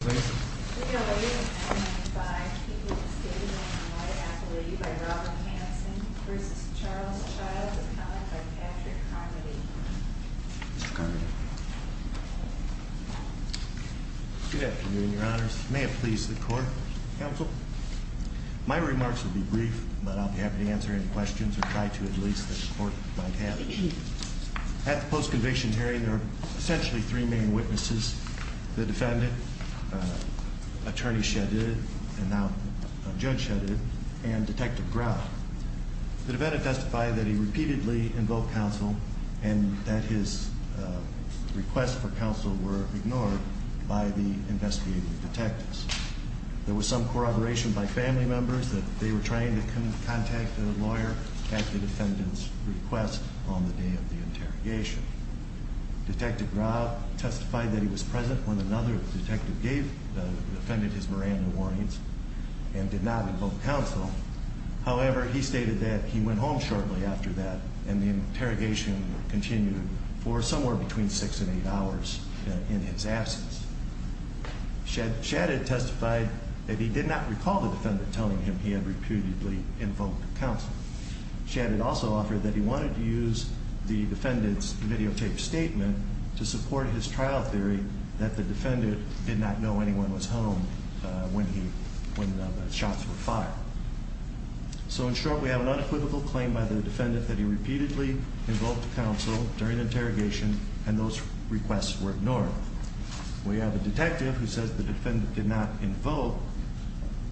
Good afternoon, your honors. May it please the court, counsel. My remarks will be brief, but I'll be happy to answer any questions or try to at least that the court might have. At the post-conviction hearing, there are essentially three main witnesses. The defendant, attorney Shadid, and now judge Shadid, and detective Brown. The defendant testified that he repeatedly invoked counsel and that his requests for counsel were ignored by the investigating detectives. There was some corroboration by family members that they were trying to contact the lawyer at the defendant's request on the day of the interrogation. Detective Brown testified that he was present when another detective defended his Miranda warnings and did not invoke counsel. However, he stated that he went home shortly after that and the interrogation continued for somewhere between six and eight hours in his absence. Shadid testified that he did not recall the defendant telling him he had repeatedly invoked counsel. Shadid also offered that he wanted to use the defendant's videotape statement to support his trial theory that the defendant did not know anyone was home when the shots were fired. So in short, we have an unequivocal claim by the defendant that he repeatedly invoked counsel during the interrogation and those requests were ignored. We have a detective who says the defendant did not invoke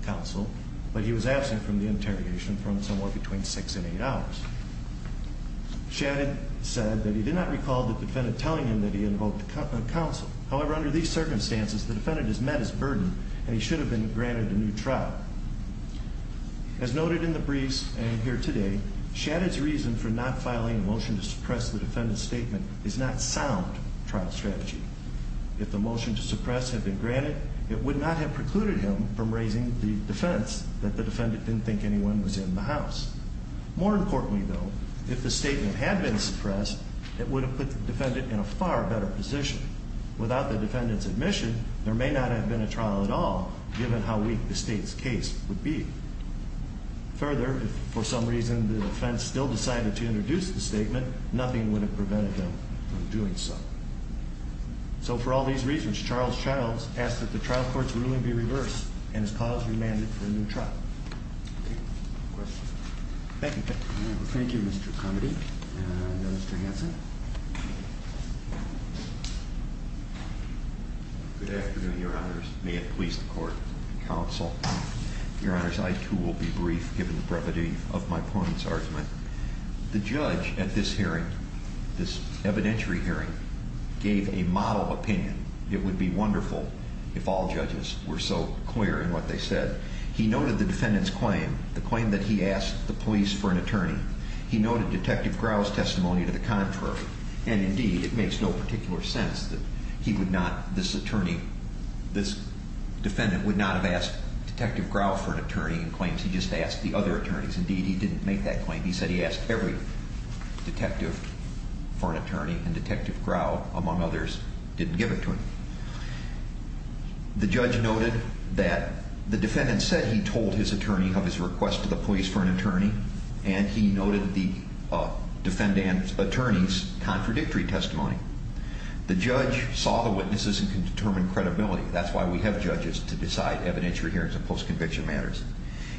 counsel, but he was absent from the interrogation for somewhere between six and eight hours. Shadid said that he did not recall the defendant telling him that he invoked counsel. However, under these circumstances, the defendant has met his burden and he should have been granted a new trial. As noted in the briefs and here today, Shadid's reason for not filing a motion to suppress the defendant's statement is not sound trial strategy. If the motion to suppress had been granted, it would not have precluded him from raising the defense that the defendant didn't think anyone was in the house. More importantly, though, if the statement had been suppressed, it would have put the defendant in a far better position. Without the defendant's admission, there may not have been a trial at all, given how weak the state's case would be. Further, if for some reason the defense still decided to introduce the statement, nothing would have prevented them from doing so. So for all these reasons, Charles Childs asked that the trial court's ruling be reversed and his cause remanded for a new trial. Thank you. Thank you, Mr. Comedy. Mr. Hanson. Good afternoon, Your Honors. May it please the court and counsel. Your Honors, I, too, will be brief, given the brevity of my opponent's argument. The judge at this hearing, this evidentiary hearing, gave a model opinion. It would be wonderful if all judges were so clear in what they said. He noted the defendant's claim, the claim that he asked the police for an attorney. He noted Detective Grau's testimony to the contrary. And, indeed, it makes no particular sense that he would not, this attorney, this defendant, would not have asked Detective Grau for an attorney in claims he just asked the other attorneys. Indeed, he didn't make that claim. He said he asked every detective for an attorney, and Detective Grau, among others, didn't give it to him. The judge noted that the defendant said he told his attorney of his request to the police for an attorney, and he noted the defendant's attorney's contradictory testimony. The judge saw the witnesses and determined credibility. That's why we have judges to decide evidentiary hearings and post-conviction matters.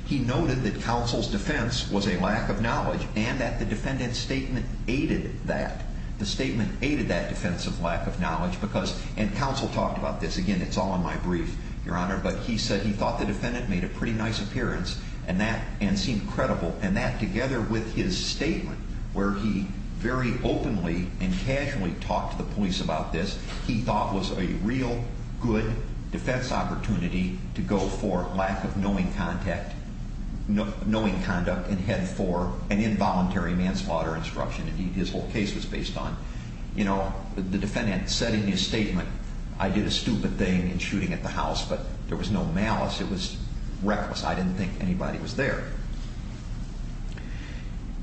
He noted that counsel's defense was a lack of knowledge and that the defendant's statement aided that. The statement aided that defense of lack of knowledge because, and counsel talked about this. Again, it's all in my brief, Your Honor, but he said he thought the defendant made a pretty nice appearance and that, and seemed credible. And that, together with his statement where he very openly and casually talked to the police about this, he thought was a real good defense opportunity to go for lack of knowing conduct and head for an involuntary manslaughter instruction. And his whole case was based on, you know, the defendant said in his statement, I did a stupid thing in shooting at the house, but there was no malice. It was reckless. I didn't think anybody was there.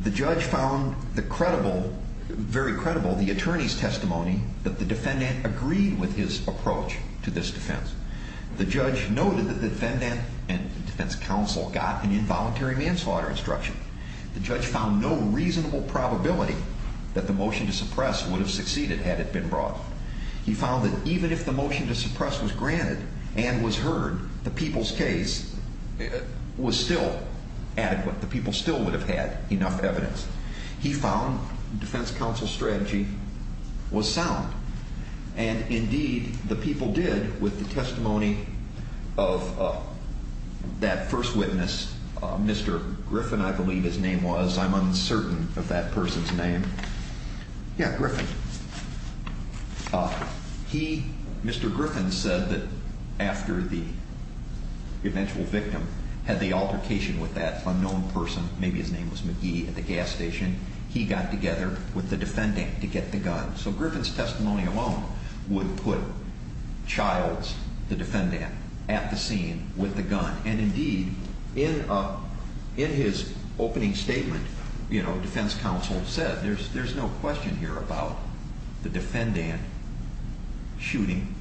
The judge found the credible, very credible, the attorney's testimony that the defendant agreed with his approach to this defense. The judge noted that the defendant and defense counsel got an involuntary manslaughter instruction. The judge found no reasonable probability that the motion to suppress would have succeeded had it been brought. He found that even if the motion to suppress was granted and was heard, the people's case was still adequate. The people still would have had enough evidence. He found defense counsel's strategy was sound. And, indeed, the people did with the testimony of that first witness, Mr. Griffin, I believe his name was. I'm uncertain of that person's name. Yeah, Griffin. He, Mr. Griffin, said that after the eventual victim had the altercation with that unknown person, maybe his name was McGee, at the gas station, he got together with the defendant to get the gun. So Griffin's testimony alone would put Childs, the defendant, at the scene with the gun. And, indeed, in his opening statement, you know, defense counsel said there's no question here about the defendant shooting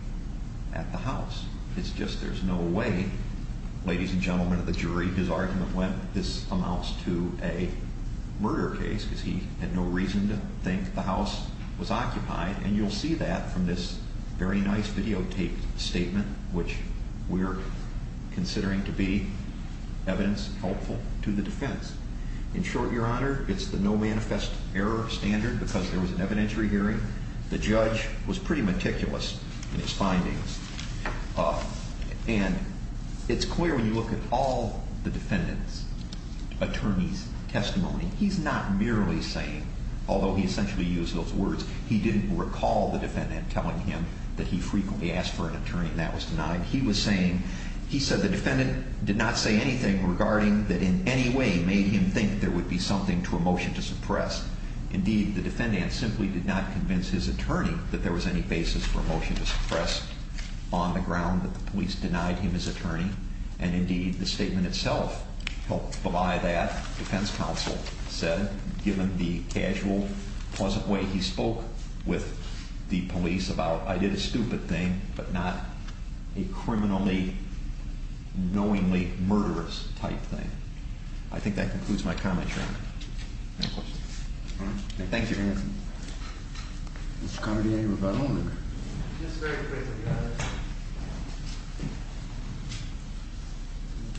at the house. It's just there's no way, ladies and gentlemen of the jury, his argument when this amounts to a murder case, because he had no reason to think the house was occupied. And you'll see that from this very nice videotaped statement, which we're considering to be evidence helpful to the defense. In short, Your Honor, it's the no manifest error standard because there was an evidentiary hearing. The judge was pretty meticulous in his findings. And it's clear when you look at all the defendant's attorney's testimony, he's not merely saying, although he essentially used those words, he didn't recall the defendant telling him that he frequently asked for an attorney and that was denied. He was saying he said the defendant did not say anything regarding that in any way made him think there would be something to a motion to suppress. Indeed, the defendant simply did not convince his attorney that there was any basis for a motion to suppress on the ground that the police denied him his attorney. And, indeed, the statement itself helped belie that, defense counsel said, given the casual, pleasant way he spoke with the police about, I did a stupid thing, but not a criminally, knowingly murderous type thing. Thank you.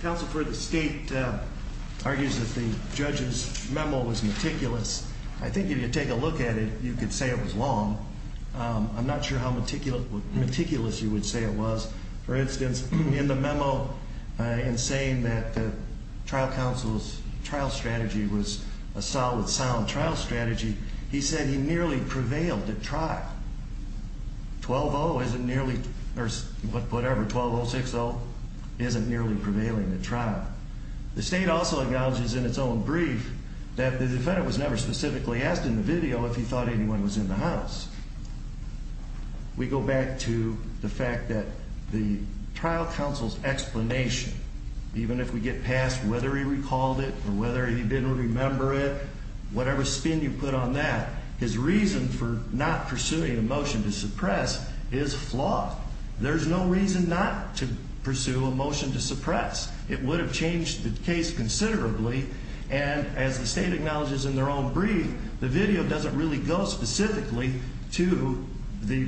Counsel for the state argues that the judge's memo was meticulous. I think if you take a look at it, you could say it was long. I'm not sure how meticulous you would say it was. For instance, in the memo, in saying that the trial counsel's trial strategy was a solid, sound trial strategy, he said he nearly prevailed at trial. 12-0 isn't nearly, or whatever, 12-0, 6-0, isn't nearly prevailing at trial. The state also acknowledges in its own brief that the defendant was never specifically asked in the video if he thought anyone was in the house. We go back to the fact that the trial counsel's explanation, even if we get past whether he recalled it or whether he didn't remember it, whatever spin you put on that, his reason for not pursuing a motion to suppress is flawed. There's no reason not to pursue a motion to suppress. It would have changed the case considerably, and as the state acknowledges in their own brief, the video doesn't really go specifically to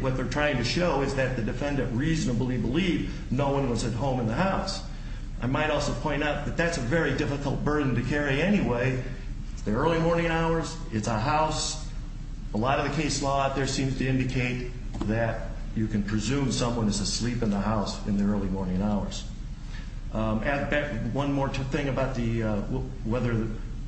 what they're trying to show is that the defendant reasonably believed no one was at home in the house. I might also point out that that's a very difficult burden to carry anyway. It's the early morning hours. It's a house. A lot of the case law out there seems to indicate that you can presume someone is asleep in the house in the early morning hours. One more thing about whether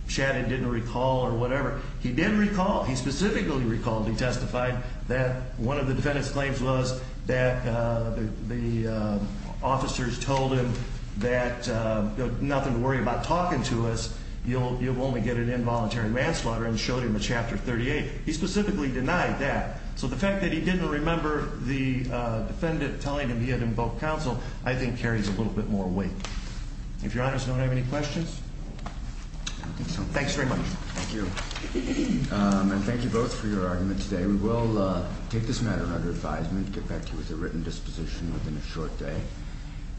Shadid didn't recall or whatever. He did recall. He specifically recalled. He testified that one of the defendant's claims was that the officers told him that nothing to worry about talking to us. You'll only get an involuntary manslaughter and showed him a Chapter 38. He specifically denied that. So the fact that he didn't remember the defendant telling him he had invoked counsel, I think, carries a little bit more weight. If Your Honors don't have any questions? I don't think so. Thanks very much. Thank you. And thank you both for your argument today. We will take this matter under advisement, get back to you with a written disposition within a short day.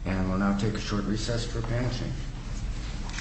And we'll now take a short recess for panel change.